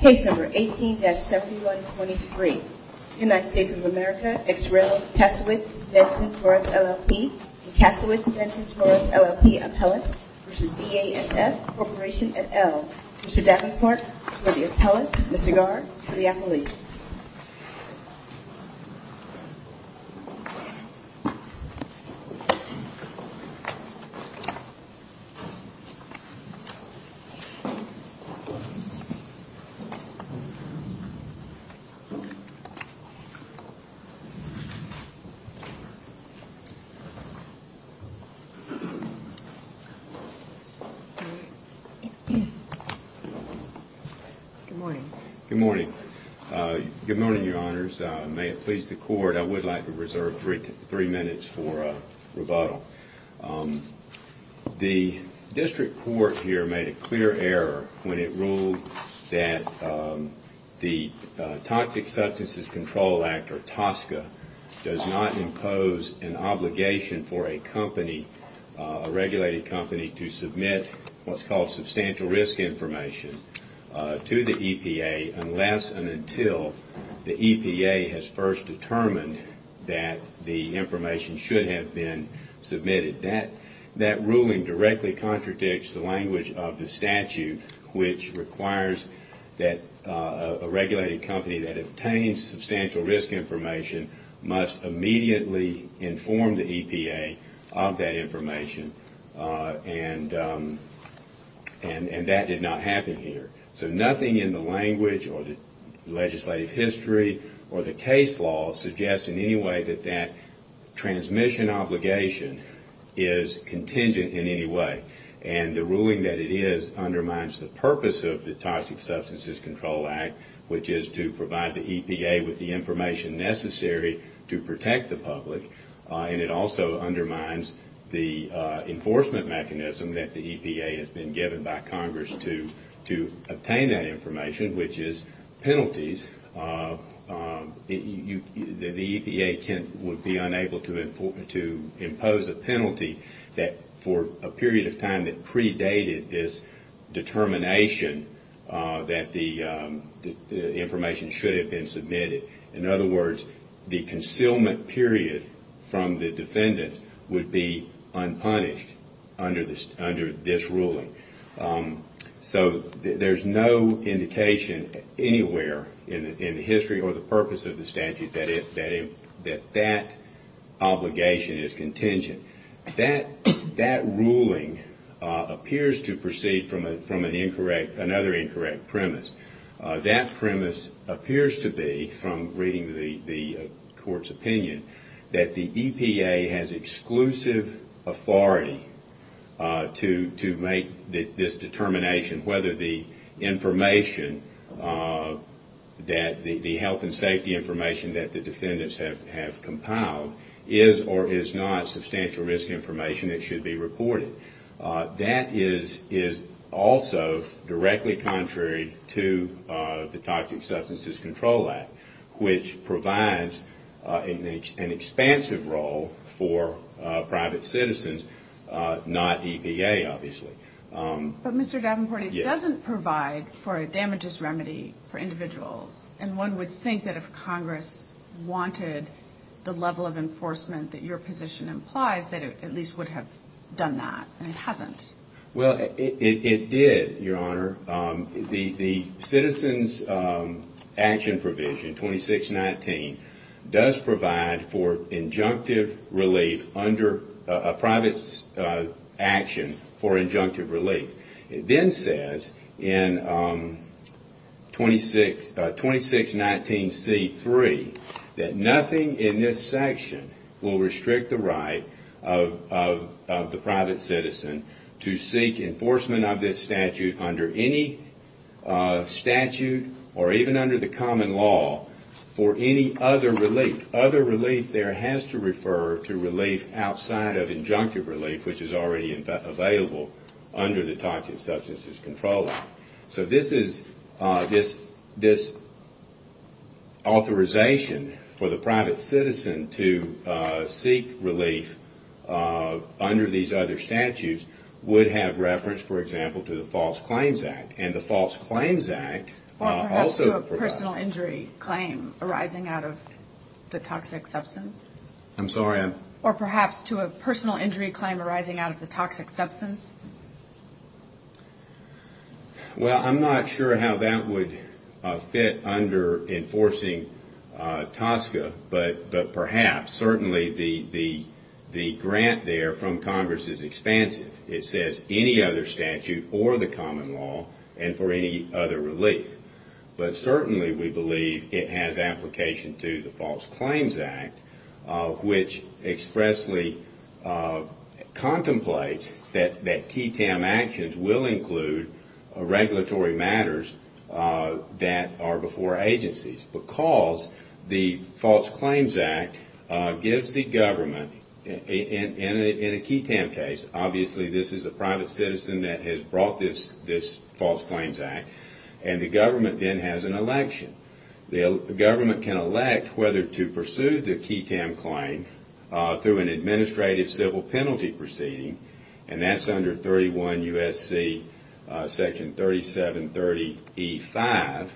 Case No. 18-7123 United States of America ex rel. Kasowitz Benson v. LLP Kasowitz Benson v. LLP Appellant v. BASF Corporation et al. Mr. Davenport for the Appellant Mr. Garr for the Appellant Good morning, your honors. May it please the court, I would like to reserve three minutes for rebuttal. The district court here made a clear error when it ruled that the Toxic Substances Control Act or TSCA does not impose an obligation for a company, a regulated company to submit what's called substantial risk information to the EPA unless and until the EPA has first said that it should have been submitted. That ruling directly contradicts the language of the statute which requires that a regulated company that obtains substantial risk information must immediately inform the EPA of that information and that did not happen here. So nothing in the language or the case law suggests in any way that that transmission obligation is contingent in any way and the ruling that it is undermines the purpose of the Toxic Substances Control Act which is to provide the EPA with the information necessary to protect the public and it also undermines the enforcement the EPA would be unable to impose a penalty for a period of time that predated this determination that the information should have been submitted. In other words, the concealment period from the defendant would be that that obligation is contingent. That ruling appears to proceed from another incorrect premise. That premise appears to be from reading the court's opinion that the EPA has exclusive authority to make this information that the defendants have compiled is or is not substantial risk information that should be reported. That is also directly contrary to the Toxic Substances Control Act which provides an expansive role for private citizens, not EPA obviously. But Mr. Davenport, it doesn't provide for a damages remedy for individuals and one would think that if Congress wanted the level of enforcement that your position implies that it at least would have done that and it hasn't. Well, it did, Your Honor. The Citizens Action Provision 2619 does provide for injunctive relief under a private citizen's action for injunctive relief. It then says in 2619C3 that nothing in this section will restrict the right of the private citizen to seek enforcement of this statute under any statute or even under the common law for any other relief there has to refer to relief outside of injunctive relief which is already available under the Toxic Substances Control Act. So this authorization for the private citizen to seek relief under these other statutes would have reference, for example, to the False Claims Act and the False Claims Act also provides arising out of the toxic substance? I'm sorry? Or perhaps to a personal injury claim arising out of the toxic substance? Well, I'm not sure how that would fit under enforcing TSCA but perhaps certainly the grant there from Congress is statute or the common law and for any other relief. But certainly we believe it has application to the False Claims Act which expressly contemplates that TTAM actions will include regulatory matters that are before agencies because the False Claims Act gives the government in a TTAM case, obviously this is a private citizen that has brought this False Claims Act and the government then has an election. The government can elect whether to pursue the TTAM claim through an administrative civil penalty proceeding and that's under 31 U.S.C. section 3730E5.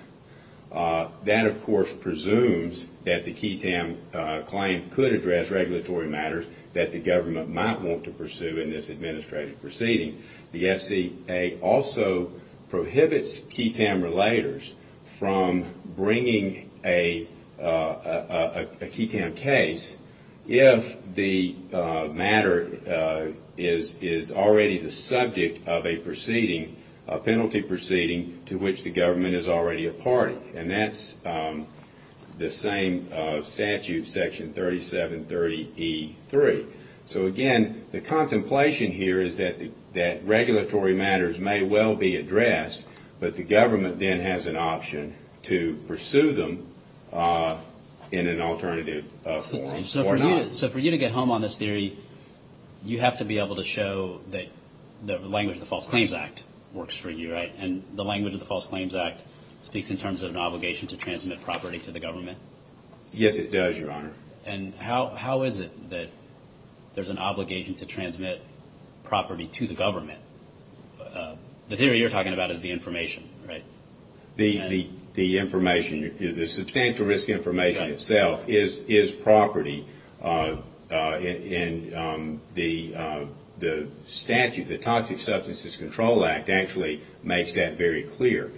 That of course presumes that the TTAM claim could address regulatory matters that the government might want to pursue in this administrative proceeding. The SCA also prohibits TTAM relators from bringing a TTAM case if the matter is already the subject of a penalty proceeding to which the government is already a party and that's the same statute, section 3730E3. So again, the contemplation here is that regulatory matters may well be addressed but the government then has an option to pursue them in an So for you to get home on this theory, you have to be able to show that the language of the False Claims Act works for you, right? And the language of the False Claims Act speaks in terms of an obligation to transmit property to the government? Yes, it does, Your Honor. And how is it that there's an obligation to transmit property to the government? The theory you're talking about is the information, right? The information, the substantial risk information itself is property and the statute, the Toxic Substances Control Act actually makes that very clear.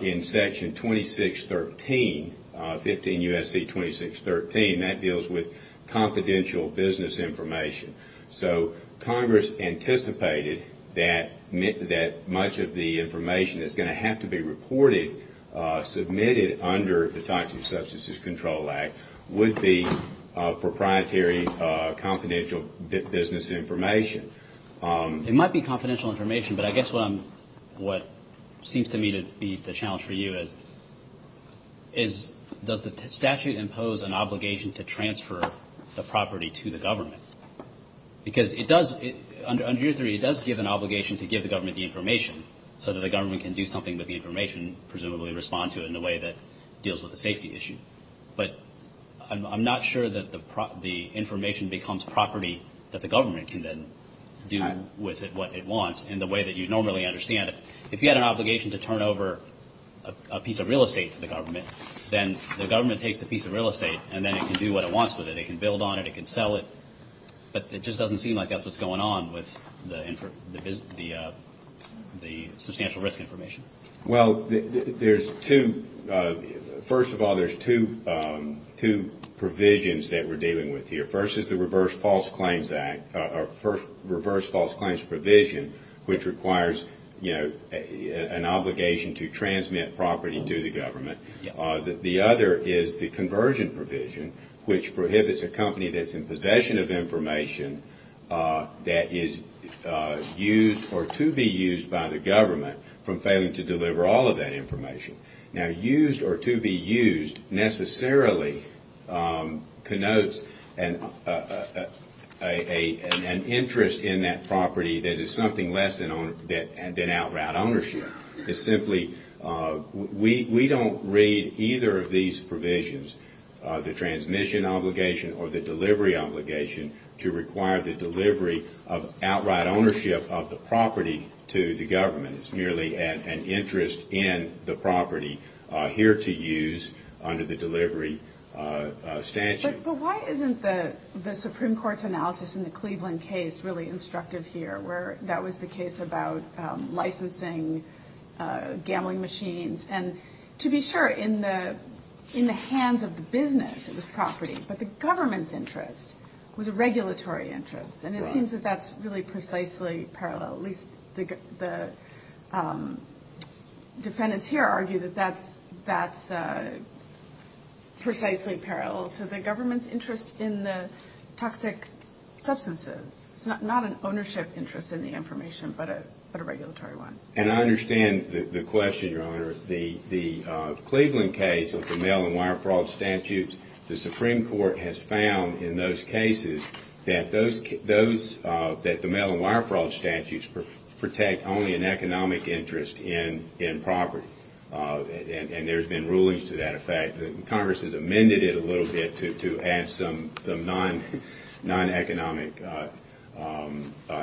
In section 2613, 15 U.S.C. 2613, that deals with confidential business information. So Congress anticipated that much of the information that's going to have to be reported, submitted under the Toxic Substances Control Act, would be proprietary confidential business information. It might be confidential information but I guess what seems to me to be the challenge for you is does the statute impose an obligation to transfer the property to the government? Because it does, under your theory, it does give an obligation to give the government the information so that the government can do something with the information, presumably respond to it in a way that deals with the safety issue. But I'm not sure that the information becomes property that the government can then do with it what it wants in the way that you normally understand it. If you had an obligation to turn over a piece of real estate to the government, then the government takes the piece of real estate and then it can do what it wants with it. It can build on it, it can sell it, but it just doesn't seem like that's what's going on with the substantial risk information. Well, there's two, first of all, there's two provisions that we're dealing with here. First is the Reverse False Claims Act, or Reverse False Claims Provision, which requires, you know, an obligation to transmit property to the government. The other is the Conversion Provision, which prohibits a company that's in possession of information that is used or to be used by the government from failing to deliver all of that information. Now, used or to be used necessarily connotes an interest in that property that is something less than outright ownership. It's simply, we don't read either of these provisions, the transmission obligation or the delivery obligation, to require the delivery of outright ownership of the property to the government. It's merely an interest in the property here to use under the delivery statute. But why isn't the Supreme Court's analysis in the Cleveland case really instructive here, where that was the case about licensing gambling machines? And to be sure, in the hands of the business, it was property, but the government's interest was a regulatory interest, and it seems that that's really precisely parallel. At least the defendants here argue that that's precisely parallel to the government's interest in the toxic substances. It's not an ownership interest in the information, but a regulatory one. And I understand the question, Your Honor. The Cleveland case of the mail-and-wire fraud statutes, the Supreme Court has found in those cases that the mail-and-wire fraud statutes protect only an economic interest in property. And there's been rulings to that effect. Congress has amended it a little bit to add some non-economic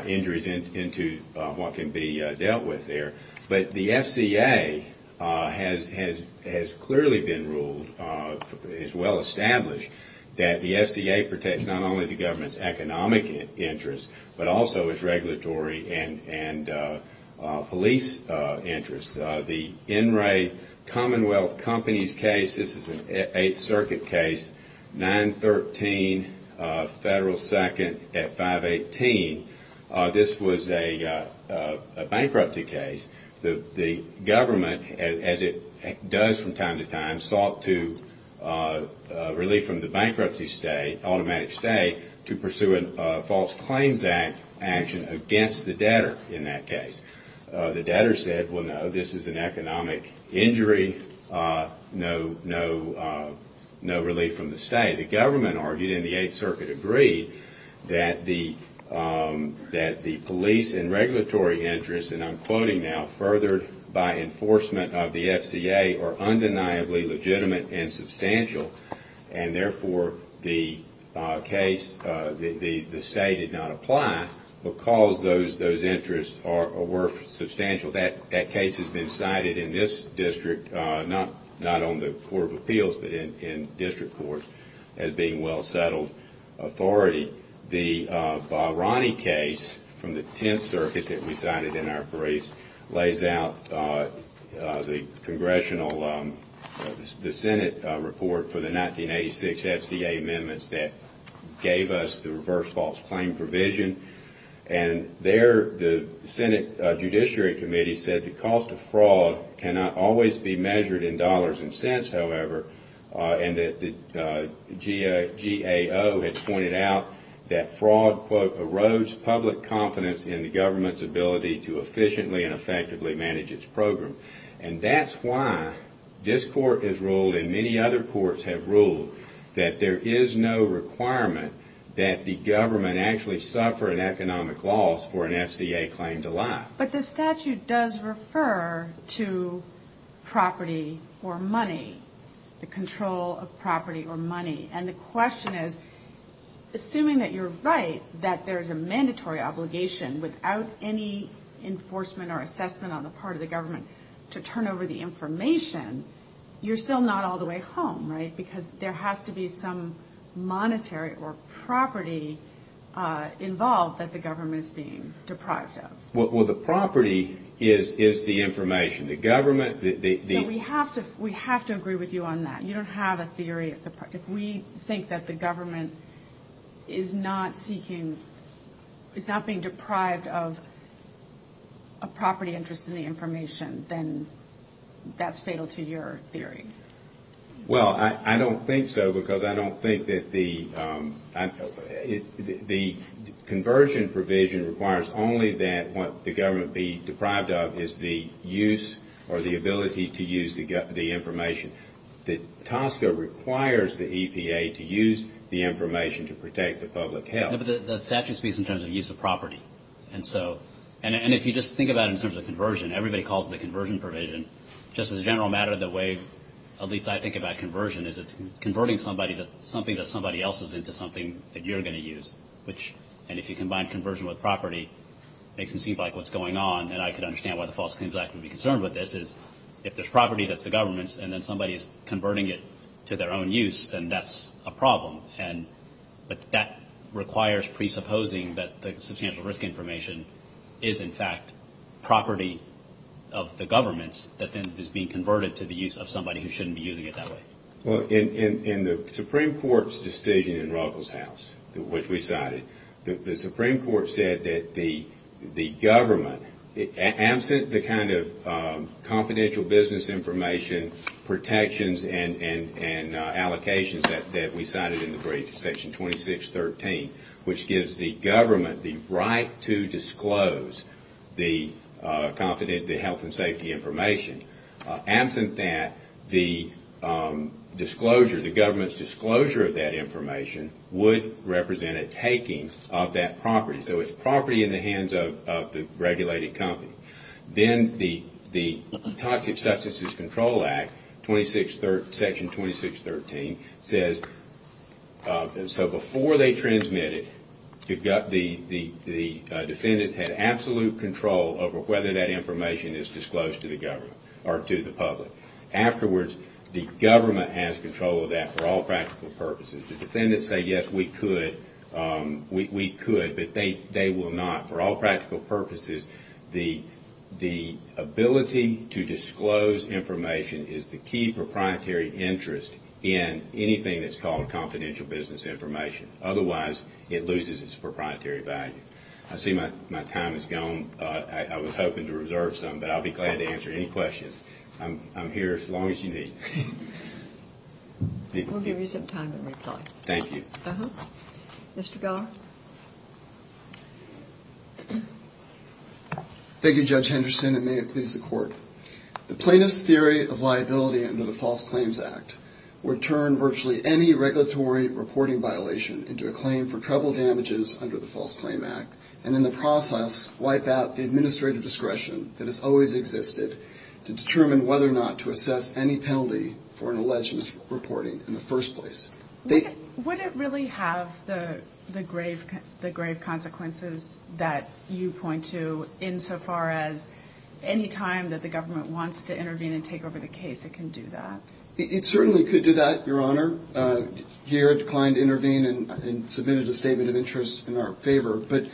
injuries into what can be dealt with there. But the FCA has clearly been ruled, is well established, that the FCA protects not only the government's economic interest, but also its regulatory and police interests. The Enright Commonwealth Companies case, this is an Eighth Circuit case, 913 Federal 2nd at 518, this was a bankruptcy case. The government, as it does from time to time, sought to relieve from the bankruptcy stay, automatic stay, to pursue a False Claims Act action against the debtor in that case. The debtor said, well, no, this is an economic injury, no relief from the stay. The government argued, and the Eighth Circuit agreed, that the police and regulatory interests, and I'm quoting now, by enforcement of the FCA are undeniably legitimate and substantial, and therefore the case, the stay did not apply because those interests were substantial. That case has been cited in this district, not on the Court of Appeals, but in district courts, as being well settled authority. Finally, the Barani case from the Tenth Circuit that we cited in our briefs lays out the congressional, the Senate report for the 1986 FCA amendments that gave us the reverse false claim provision. And there the Senate Judiciary Committee said the cost of fraud cannot always be measured in dollars and cents, however, and that the GAO had pointed out that fraud, quote, in the government's ability to efficiently and effectively manage its program. And that's why this court has ruled, and many other courts have ruled, that there is no requirement that the government actually suffer an economic loss for an FCA claim to life. But the statute does refer to property or money, the control of property or money. And the question is, assuming that you're right, that there's a mandatory obligation without any enforcement or assessment on the part of the government to turn over the information, you're still not all the way home, right, because there has to be some monetary or property involved that the government is being deprived of. Well, the property is the information. The government, the... No, we have to agree with you on that. You don't have a theory. If we think that the government is not seeking, is not being deprived of a property interest in the information, then that's fatal to your theory. Well, I don't think so, because I don't think that the conversion provision requires only that what the government be deprived of is the use or the ability to use the information. The TSCA requires the EPA to use the information to protect the public health. No, but the statute speaks in terms of use of property. And so, and if you just think about it in terms of conversion, everybody calls it the conversion provision. Just as a general matter of the way, at least I think about conversion, is it's converting somebody, something that somebody else is into something that you're going to use, which, and if you combine conversion with property, makes it seem like what's going on, and I can understand why the False Claims Act would be concerned with this, is if there's property that's the government's, and then somebody is converting it to their own use, then that's a problem. But that requires presupposing that the substantial risk information is, in fact, property of the government's that then is being converted to the use of somebody who shouldn't be using it that way. Well, in the Supreme Court's decision in Ruggles House, which we cited, the Supreme Court said that the government, absent the kind of confidential business information protections and allocations that we cited in the brief, Section 2613, which gives the government the right to disclose the confidential health and safety information, absent that, the disclosure, the government's disclosure of that information would represent a taking of that property. So it's property in the hands of the regulated company. Then the Toxic Substances Control Act, Section 2613, says, so before they transmit it, the defendants have absolute control over whether that information is disclosed to the government, or to the public. Afterwards, the government has control of that for all practical purposes. The defendants say, yes, we could, but they will not, for all practical purposes. The ability to disclose information is the key proprietary interest in anything that's called confidential business information. Otherwise, it loses its proprietary value. I see my time has gone. I was hoping to reserve some, but I'll be glad to answer any questions. I'm here as long as you need. We'll give you some time, Mr. Kelly. Thank you. Mr. Geller? Thank you, Judge Henderson, and may it please the Court. The plaintiff's theory of liability under the False Claims Act would turn virtually any regulatory reporting violation into a claim for trouble damages under the False Claim Act, and in the process, wipe out the administrative discretion that has always existed to determine whether or not to assess any penalty for an alleged misreporting in the first place. Would it really have the grave consequences that you point to insofar as any time that the government wants to intervene and take over the case, it can do that? It certainly could do that, Your Honor. Here, I declined to intervene and submitted a statement of interest in our favor, but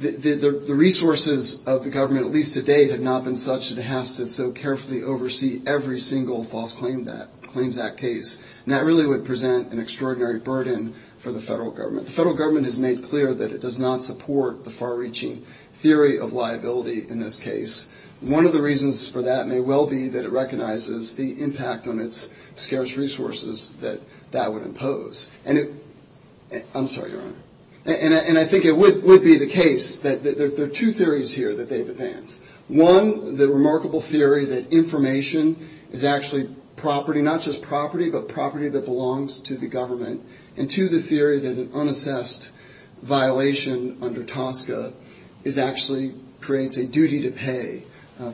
the resources of the government, at least to date, have not been such that it has to so carefully oversee every single False Claims Act case, and that really would present an extraordinary burden for the federal government. The federal government has made clear that it does not support the far-reaching theory of liability in this case. One of the reasons for that may well be that it recognizes the impact on its scarce resources that that would impose. I'm sorry, Your Honor. And I think it would be the case that there are two theories here that they've advanced. One, the remarkable theory that information is actually property, not just property, but property that belongs to the government, and two, the theory that an unassessed violation under TSCA actually creates a duty to pay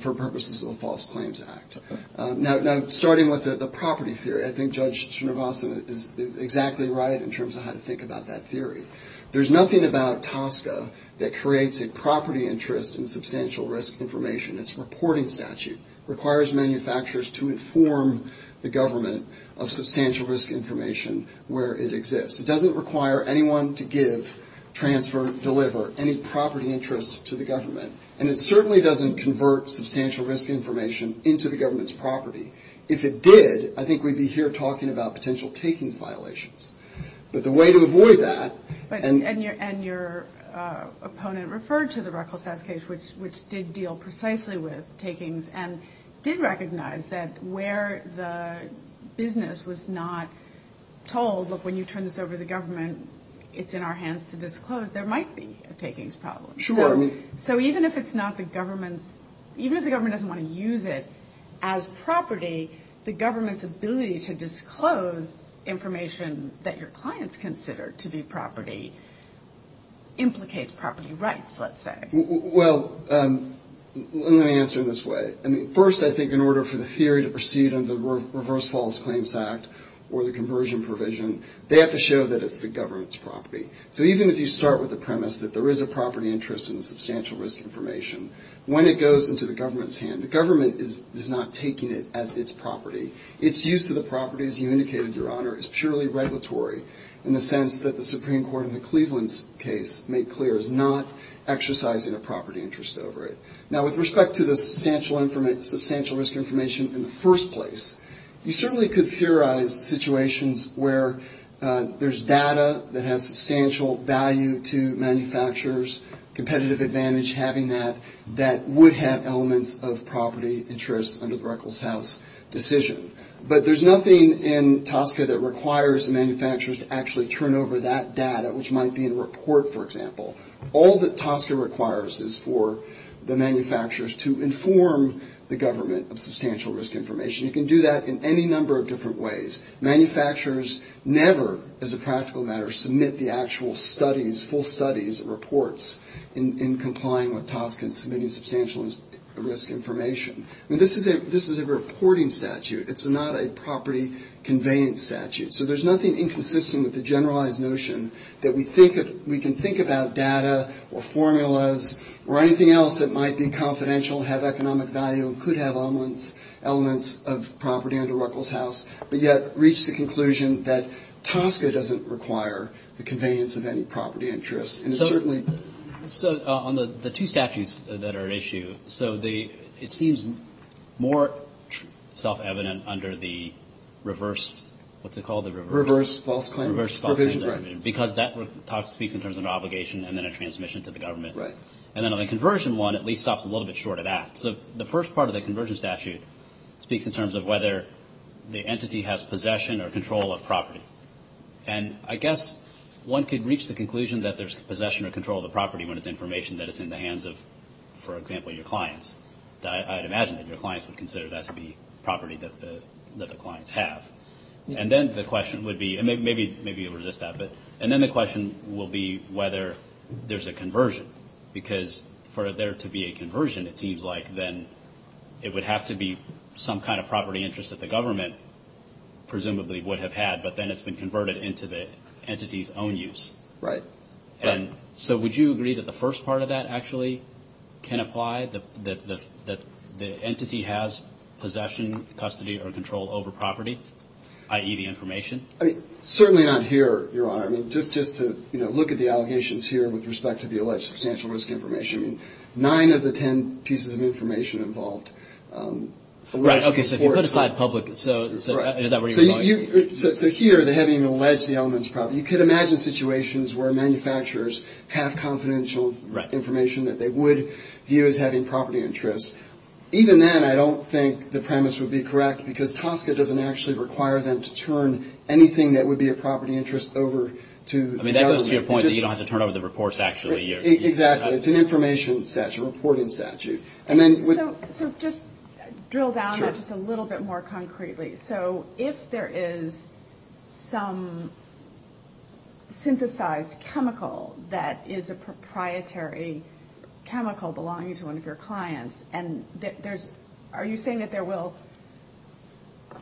for purposes of the False Claims Act. Now, starting with the property theory, I think Judge Chernivasa is exactly right in terms of how to think about that theory. There's nothing about TSCA that creates a property interest in substantial risk information. Its reporting statute requires manufacturers to inform the government of substantial risk information where it exists. It doesn't require anyone to give, transfer, deliver any property interest to the government, and it certainly doesn't convert substantial risk information into the government's property. If it did, I think we'd be here talking about potential takings violations. But the way to avoid that... And your opponent referred to the Ruckelsass case, which did deal precisely with takings, and did recognize that where the business was not told, look, when you turn this over to the government, it's in our hands to disclose, there might be a takings problem. Sure. So even if it's not the government's... Even if the government doesn't want to use it as property, the government's ability to disclose information that your clients consider to be property implicates property rights, let's say. Well, let me answer it this way. First, I think in order for the theory to proceed under the Reverse False Claims Act or the conversion provision, So even if you start with the premise that there is a property interest in substantial risk information, when it goes into the government's hand, the government is not taking it as its property. Its use of the property, as you indicated, Your Honor, is purely regulatory, in the sense that the Supreme Court in the Cleveland case made clear is not exercising a property interest over it. Now, with respect to the substantial risk information in the first place, you certainly could theorize situations where there's data that has substantial value to manufacturers, competitive advantage having that, that would have elements of property interests under the Ruckelshaus decision. But there's nothing in TSCA that requires the manufacturers to actually turn over that data, which might be in a report, for example. All that TSCA requires is for the manufacturers to inform the government of substantial risk information. You can do that in any number of different ways. Manufacturers never, as a practical matter, submit the actual studies, full studies, reports, in complying with TSCA and submitting substantial risk information. This is a reporting statute. It's not a property conveyance statute. So there's nothing inconsistent with the generalized notion that we can think about data or formulas or anything else that might be confidential, have economic value, and could have elements of property under Ruckelshaus, but yet reach the conclusion that TSCA doesn't require the conveyance of any property interests. And it certainly... So on the two statutes that are at issue, so it seems more self-evident under the reverse, what's it called? Reverse false claim provision. Because that speaks in terms of an obligation and then a transmission to the government. And then the conversion one at least stops a little bit short of that. So the first part of the conversion statute speaks in terms of whether the entity has possession or control of property. And I guess one could reach the conclusion that there's possession or control of the property when it's information that it's in the hands of, for example, your clients. I'd imagine that your clients would consider that to be property that the clients have. And then the question would be, and maybe you'll resist that, and then the question will be whether there's a conversion. Because for there to be a conversion, it seems like, then it would have to be some kind of property interest that the government presumably would have had, but then it's been converted into the entity's own use. Right. And so would you agree that the first part of that actually can apply, that the entity has possession, custody, or control over property, i.e. the information? Certainly not here, Your Honor. I mean, just to look at the allegations here with respect to the alleged substantial risk information, nine of the ten pieces of information involved. Right, okay, so if you put a slide public, so is that where you're going? So here, having alleged the elements of property, you could imagine situations where manufacturers have confidential information that they would view as having property interests. Even then, I don't think the premise would be correct, because TSCA doesn't actually require them to turn anything that would be a property interest over to government. I mean, that goes to your point that you don't have to turn over the reports, actually. Exactly, it's an information statute, a reporting statute. So just drill down just a little bit more concretely. So if there is some synthesized chemical that is a proprietary chemical belonging to one of your clients, and are you saying that there will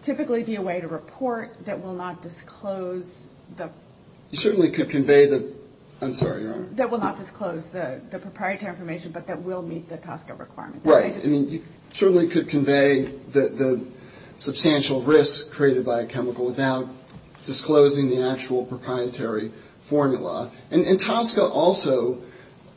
typically be a way to report that will not disclose the... You certainly could convey the... I'm sorry, Your Honor. That will not disclose the proprietary information, but that will meet the TSCA requirement. Right, I mean, you certainly could convey the substantial risk created by a chemical without disclosing the actual proprietary formula. And TSCA also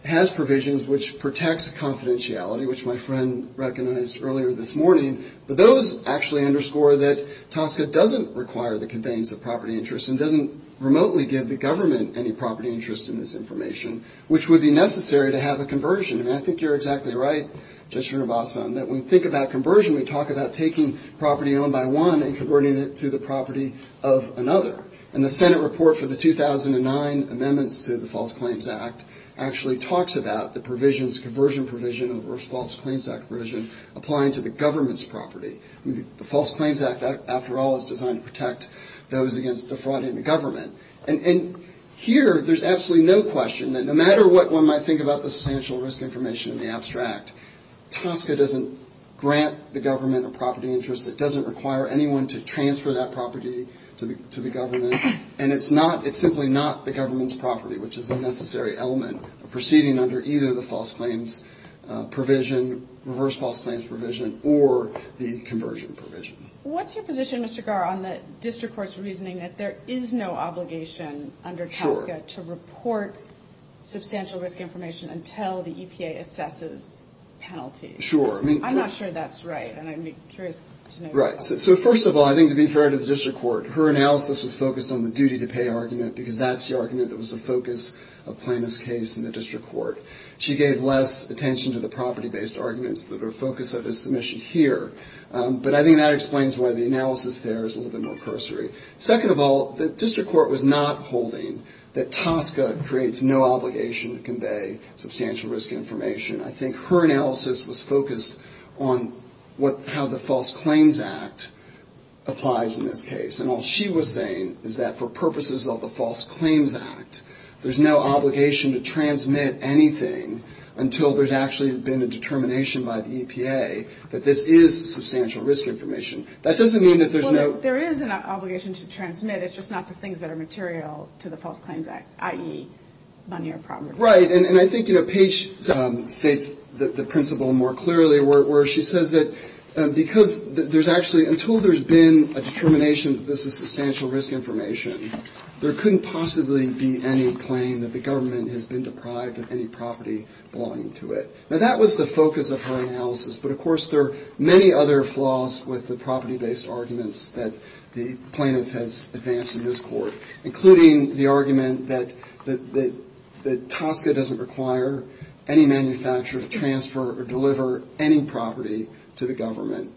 has provisions which protects confidentiality, which my friend recognized earlier this morning. But those actually underscore that TSCA doesn't require the conveyance of property interests and doesn't remotely give the government any property interest in this information, which would be necessary to have a conversion. And I think you're exactly right, Judge Srinivasan, that when we think about conversion, we talk about taking property owned by one and converting it to the property of another. And the Senate report for the 2009 amendments to the False Claims Act actually talks about the provisions, conversion provision, of the False Claims Act provision applying to the government's property. The False Claims Act, after all, is designed to protect those against defrauding the government. And here, there's absolutely no question that no matter what one might think about the substantial risk information in the abstract, TSCA doesn't grant the government a property interest. It doesn't require anyone to transfer that property to the government. And it's simply not the government's property, which is a necessary element of proceeding under either the false claims provision, reverse false claims provision, or the conversion provision. What's your position, Mr. Garr, on the district court's reasoning that there is no obligation under TSCA to report substantial risk information until the EPA assesses penalties? Sure. I'm not sure that's right, and I'd be curious to know. Right. So first of all, I think to be fair to the district court, her analysis was focused on the duty to pay argument, because that's the argument that was the focus of Plano's case in the district court. She gave less attention to the property-based arguments that are the focus of his submission here. But I think that explains why the analysis there is a little bit more cursory. Second of all, the district court was not holding that TSCA creates no obligation to convey substantial risk information. I think her analysis was focused on how the False Claims Act applies in this case. And all she was saying is that for purposes of the False Claims Act, there's no obligation to transmit anything until there's actually been a determination by the EPA that this is substantial risk information. That doesn't mean that there's no – Well, there is an obligation to transmit. It's just not the things that are material to the False Claims Act, i.e. money or property. Right, and I think, you know, Paige states the principle more clearly, where she says that because there's actually – until there's been a determination that this is substantial risk information, there couldn't possibly be any claim that the government has been deprived of any property belonging to it. Now, that was the focus of her analysis. But, of course, there are many other flaws with the property-based arguments that the plaintiff has advanced in this court, including the argument that TSCA doesn't require any manufacturer to transfer or deliver any property to the government,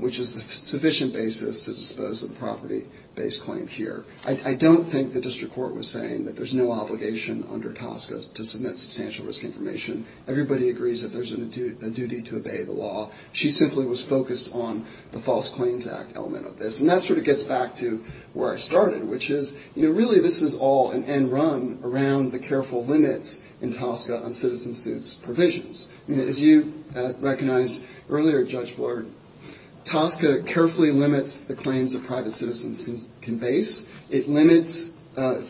which is a sufficient basis to dispose of the property-based claim here. I don't think the district court was saying that there's no obligation under TSCA to submit substantial risk information. Everybody agrees that there's a duty to obey the law. She simply was focused on the False Claims Act element of this. And that sort of gets back to where I started, which is, you know, really, this is all an end run around the careful limits in TSCA on citizen suits provisions. As you recognized earlier, Judge Blard, TSCA carefully limits the claims that private citizens can base. It limits,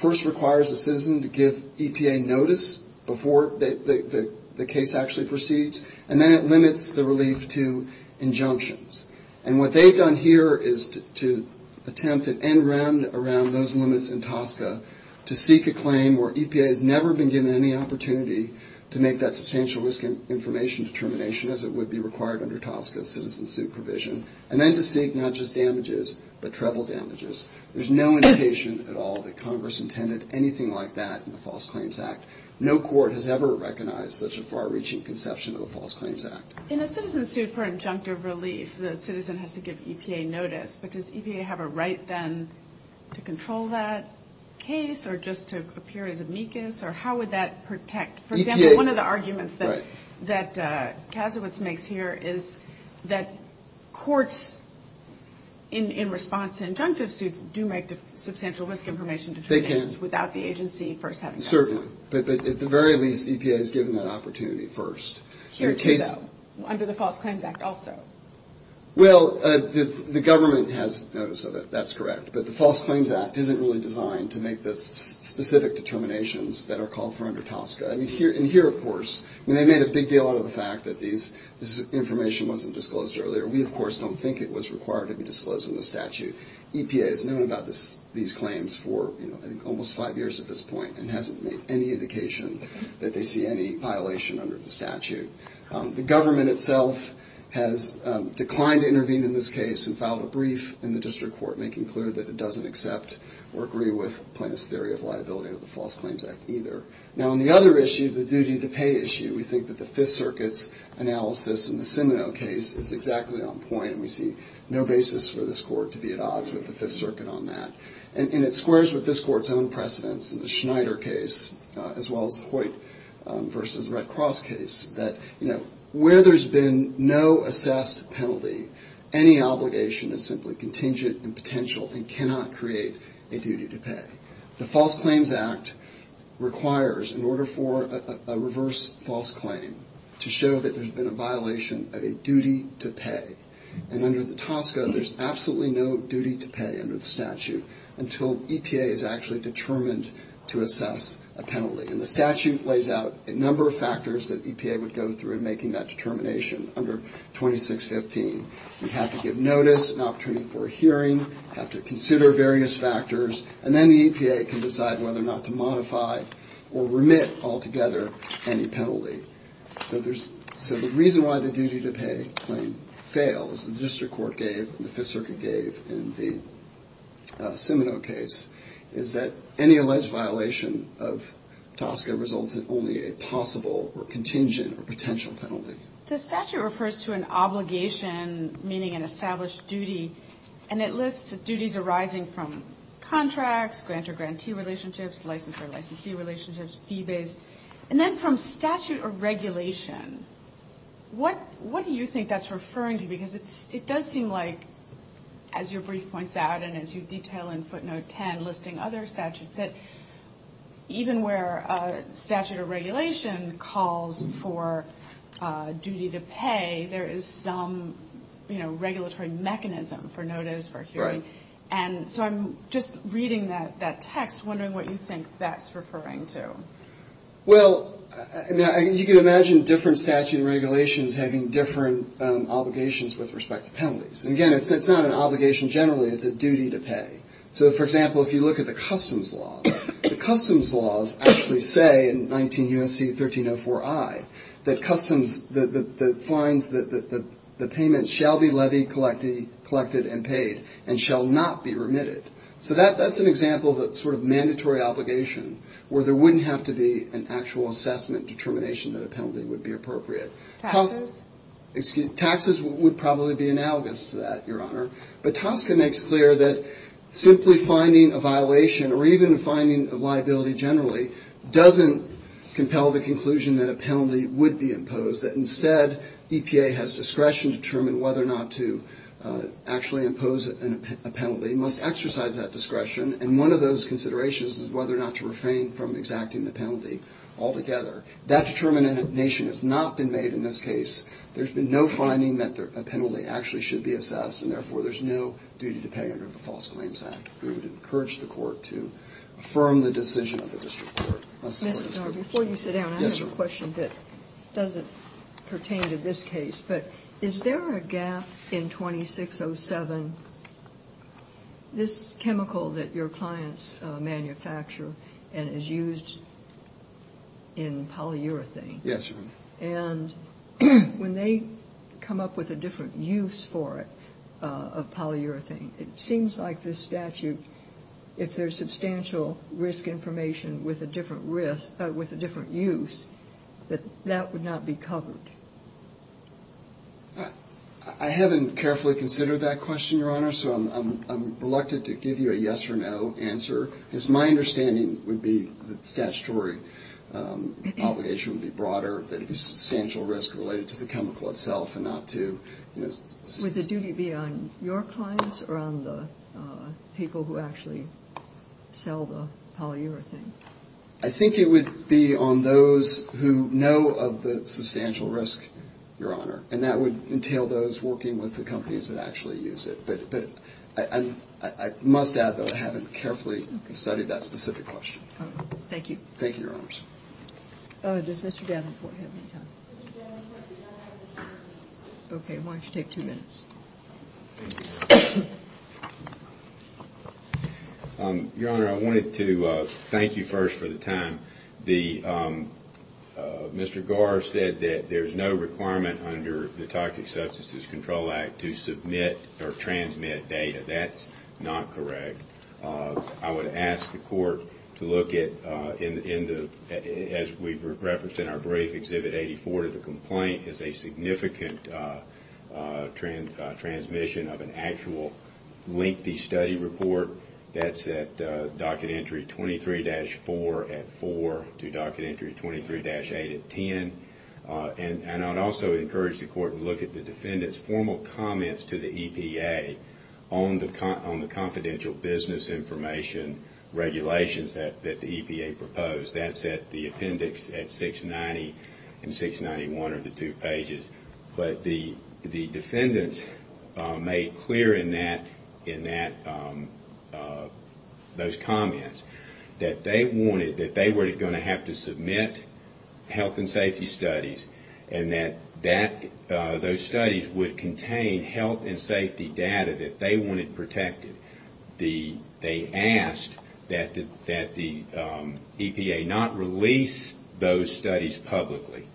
first requires a citizen to give EPA notice before the case actually proceeds, and then it limits the relief to injunctions. And what they've done here is to attempt an end round around those limits in TSCA to seek a claim where EPA has never been given any opportunity to make that substantial risk information determination, as it would be required under TSCA citizen suit provision, and then to seek not just damages, but treble damages. There's no indication at all that Congress intended anything like that in the False Claims Act. No court has ever recognized such a far-reaching conception of the False Claims Act. In a citizen suit for injunctive relief, the citizen has to give EPA notice. But does EPA have a right then to control that case, or just to appear as amicus, or how would that protect? For example, one of the arguments that Kasowitz makes here is that courts, in response to injunctive suits, do make substantial risk information determinations without the agency first having done so. Certainly, but at the very least, EPA is given that opportunity first. Here too, though, under the False Claims Act also. Well, the government has notice of it, that's correct, but the False Claims Act isn't really designed to make the specific determinations that are called for under TSCA. And here, of course, they made a big deal out of the fact that this information wasn't disclosed earlier. We, of course, don't think it was required to be disclosed in the statute. EPA has known about these claims for almost five years at this point, and hasn't made any indication that they see any violation under the statute. The government itself has declined to intervene in this case and filed a brief in the district court, making clear that it doesn't accept or agree with Plaintiff's theory of liability under the False Claims Act either. Now, on the other issue, the duty to pay issue, we think that the Fifth Circuit's analysis in the Seminole case is exactly on point. We see no basis for this Court to be at odds with the Fifth Circuit on that. And it squares with this Court's own precedence in the Schneider case, as well as the Hoyt v. Red Cross case, that where there's been no assessed penalty, any obligation is simply contingent and potential and cannot create a duty to pay. The False Claims Act requires, in order for a reverse false claim, to show that there's been a violation of a duty to pay. And under the TSCA, there's absolutely no duty to pay under the statute until EPA is actually determined to assess a penalty. And the statute lays out a number of factors that EPA would go through in making that determination under 2615. We have to give notice, an opportunity for a hearing, have to consider various factors, and then the EPA can decide whether or not to modify or remit altogether any penalty. So the reason why the duty to pay claim fails, the District Court gave and the Fifth Circuit gave in the Seminole case, is that any alleged violation of TSCA results in only a possible or contingent or potential penalty. The statute refers to an obligation, meaning an established duty, and it lists duties arising from contracts, grantor-grantee relationships, licensor-licensee relationships, fee-based. And then from statute or regulation, what do you think that's referring to? Because it does seem like, as your brief points out and as you detail in footnote 10, listing other statutes, that even where statute or regulation calls for duty to pay, there is some regulatory mechanism for notice, for hearing. And so I'm just reading that text, wondering what you think that's referring to. Well, you can imagine different statute and regulations having different obligations with respect to penalties. And again, it's not an obligation generally. It's a duty to pay. So, for example, if you look at the customs laws, the customs laws actually say in 19 U.S.C. 1304i that the payments shall be levied, collected, and paid, and shall not be remitted. So that's an example that's sort of mandatory obligation, where there wouldn't have to be an actual assessment determination that a penalty would be appropriate. Taxes? Taxes would probably be analogous to that, Your Honor. But TSCA makes clear that simply finding a violation or even finding a liability generally doesn't compel the conclusion that a penalty would be imposed, that instead EPA has discretion to determine whether or not to actually impose a penalty, must exercise that discretion, and one of those considerations is whether or not to refrain from exacting the penalty altogether. That determination has not been made in this case. There's been no finding that a penalty actually should be assessed, and therefore there's no duty to pay under the False Claims Act. We would encourage the court to affirm the decision of the district court. Before you sit down, I have a question that doesn't pertain to this case, but is there a gap in 2607, this chemical that your clients manufacture and is used in polyurethane? Yes, Your Honor. And when they come up with a different use for it of polyurethane, it seems like this statute, if there's substantial risk information with a different risk, with a different use, that that would not be covered. I haven't carefully considered that question, Your Honor, so I'm reluctant to give you a yes or no answer, because my understanding would be that statutory obligation would be broader, that it would be substantial risk related to the chemical itself and not to, you know, Would the duty be on your clients or on the people who actually sell the polyurethane? I think it would be on those who know of the substantial risk, Your Honor, and that would entail those working with the companies that actually use it. But I must add, though, I haven't carefully studied that specific question. Thank you. Thank you, Your Honors. Does Mr. Davenport have any time? Okay, why don't you take two minutes? Your Honor, I wanted to thank you first for the time. Mr. Garr said that there's no requirement under the Toxic Substances Control Act to submit or transmit data. That's not correct. I would ask the Court to look at, as we've referenced in our brief, Exhibit 84 of the complaint is a significant transmission of an actual lengthy study report that's at Docket Entry 23-4 at 4 to Docket Entry 23-8 at 10. And I'd also encourage the Court to look at the defendant's formal comments to the EPA on the confidential business information regulations that the EPA proposed. That's at the appendix at 690 and 691 are the two pages. But the defendants made clear in those comments that they wanted, that they were going to have to submit health and safety studies, and that those studies would contain health and safety data that they wanted protected. They asked that the EPA not release those studies publicly,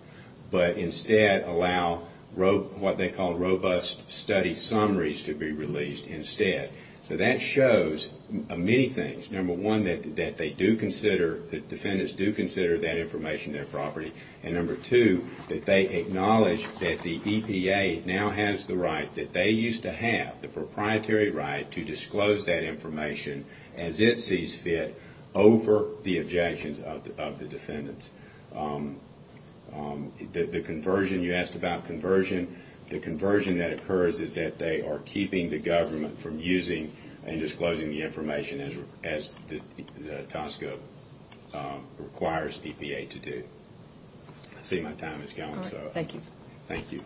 but instead allow what they call robust study summaries to be released instead. So that shows many things. Number one, that they do consider, that defendants do consider that information their property. And number two, that they acknowledge that the EPA now has the right, that they used to have the proprietary right to disclose that information as it sees fit over the objections of the defendants. The conversion, you asked about conversion, the conversion that occurs is that they are keeping the government from using and disclosing the information as the TSCA requires EPA to do. I see my time is gone. Thank you. Thank you.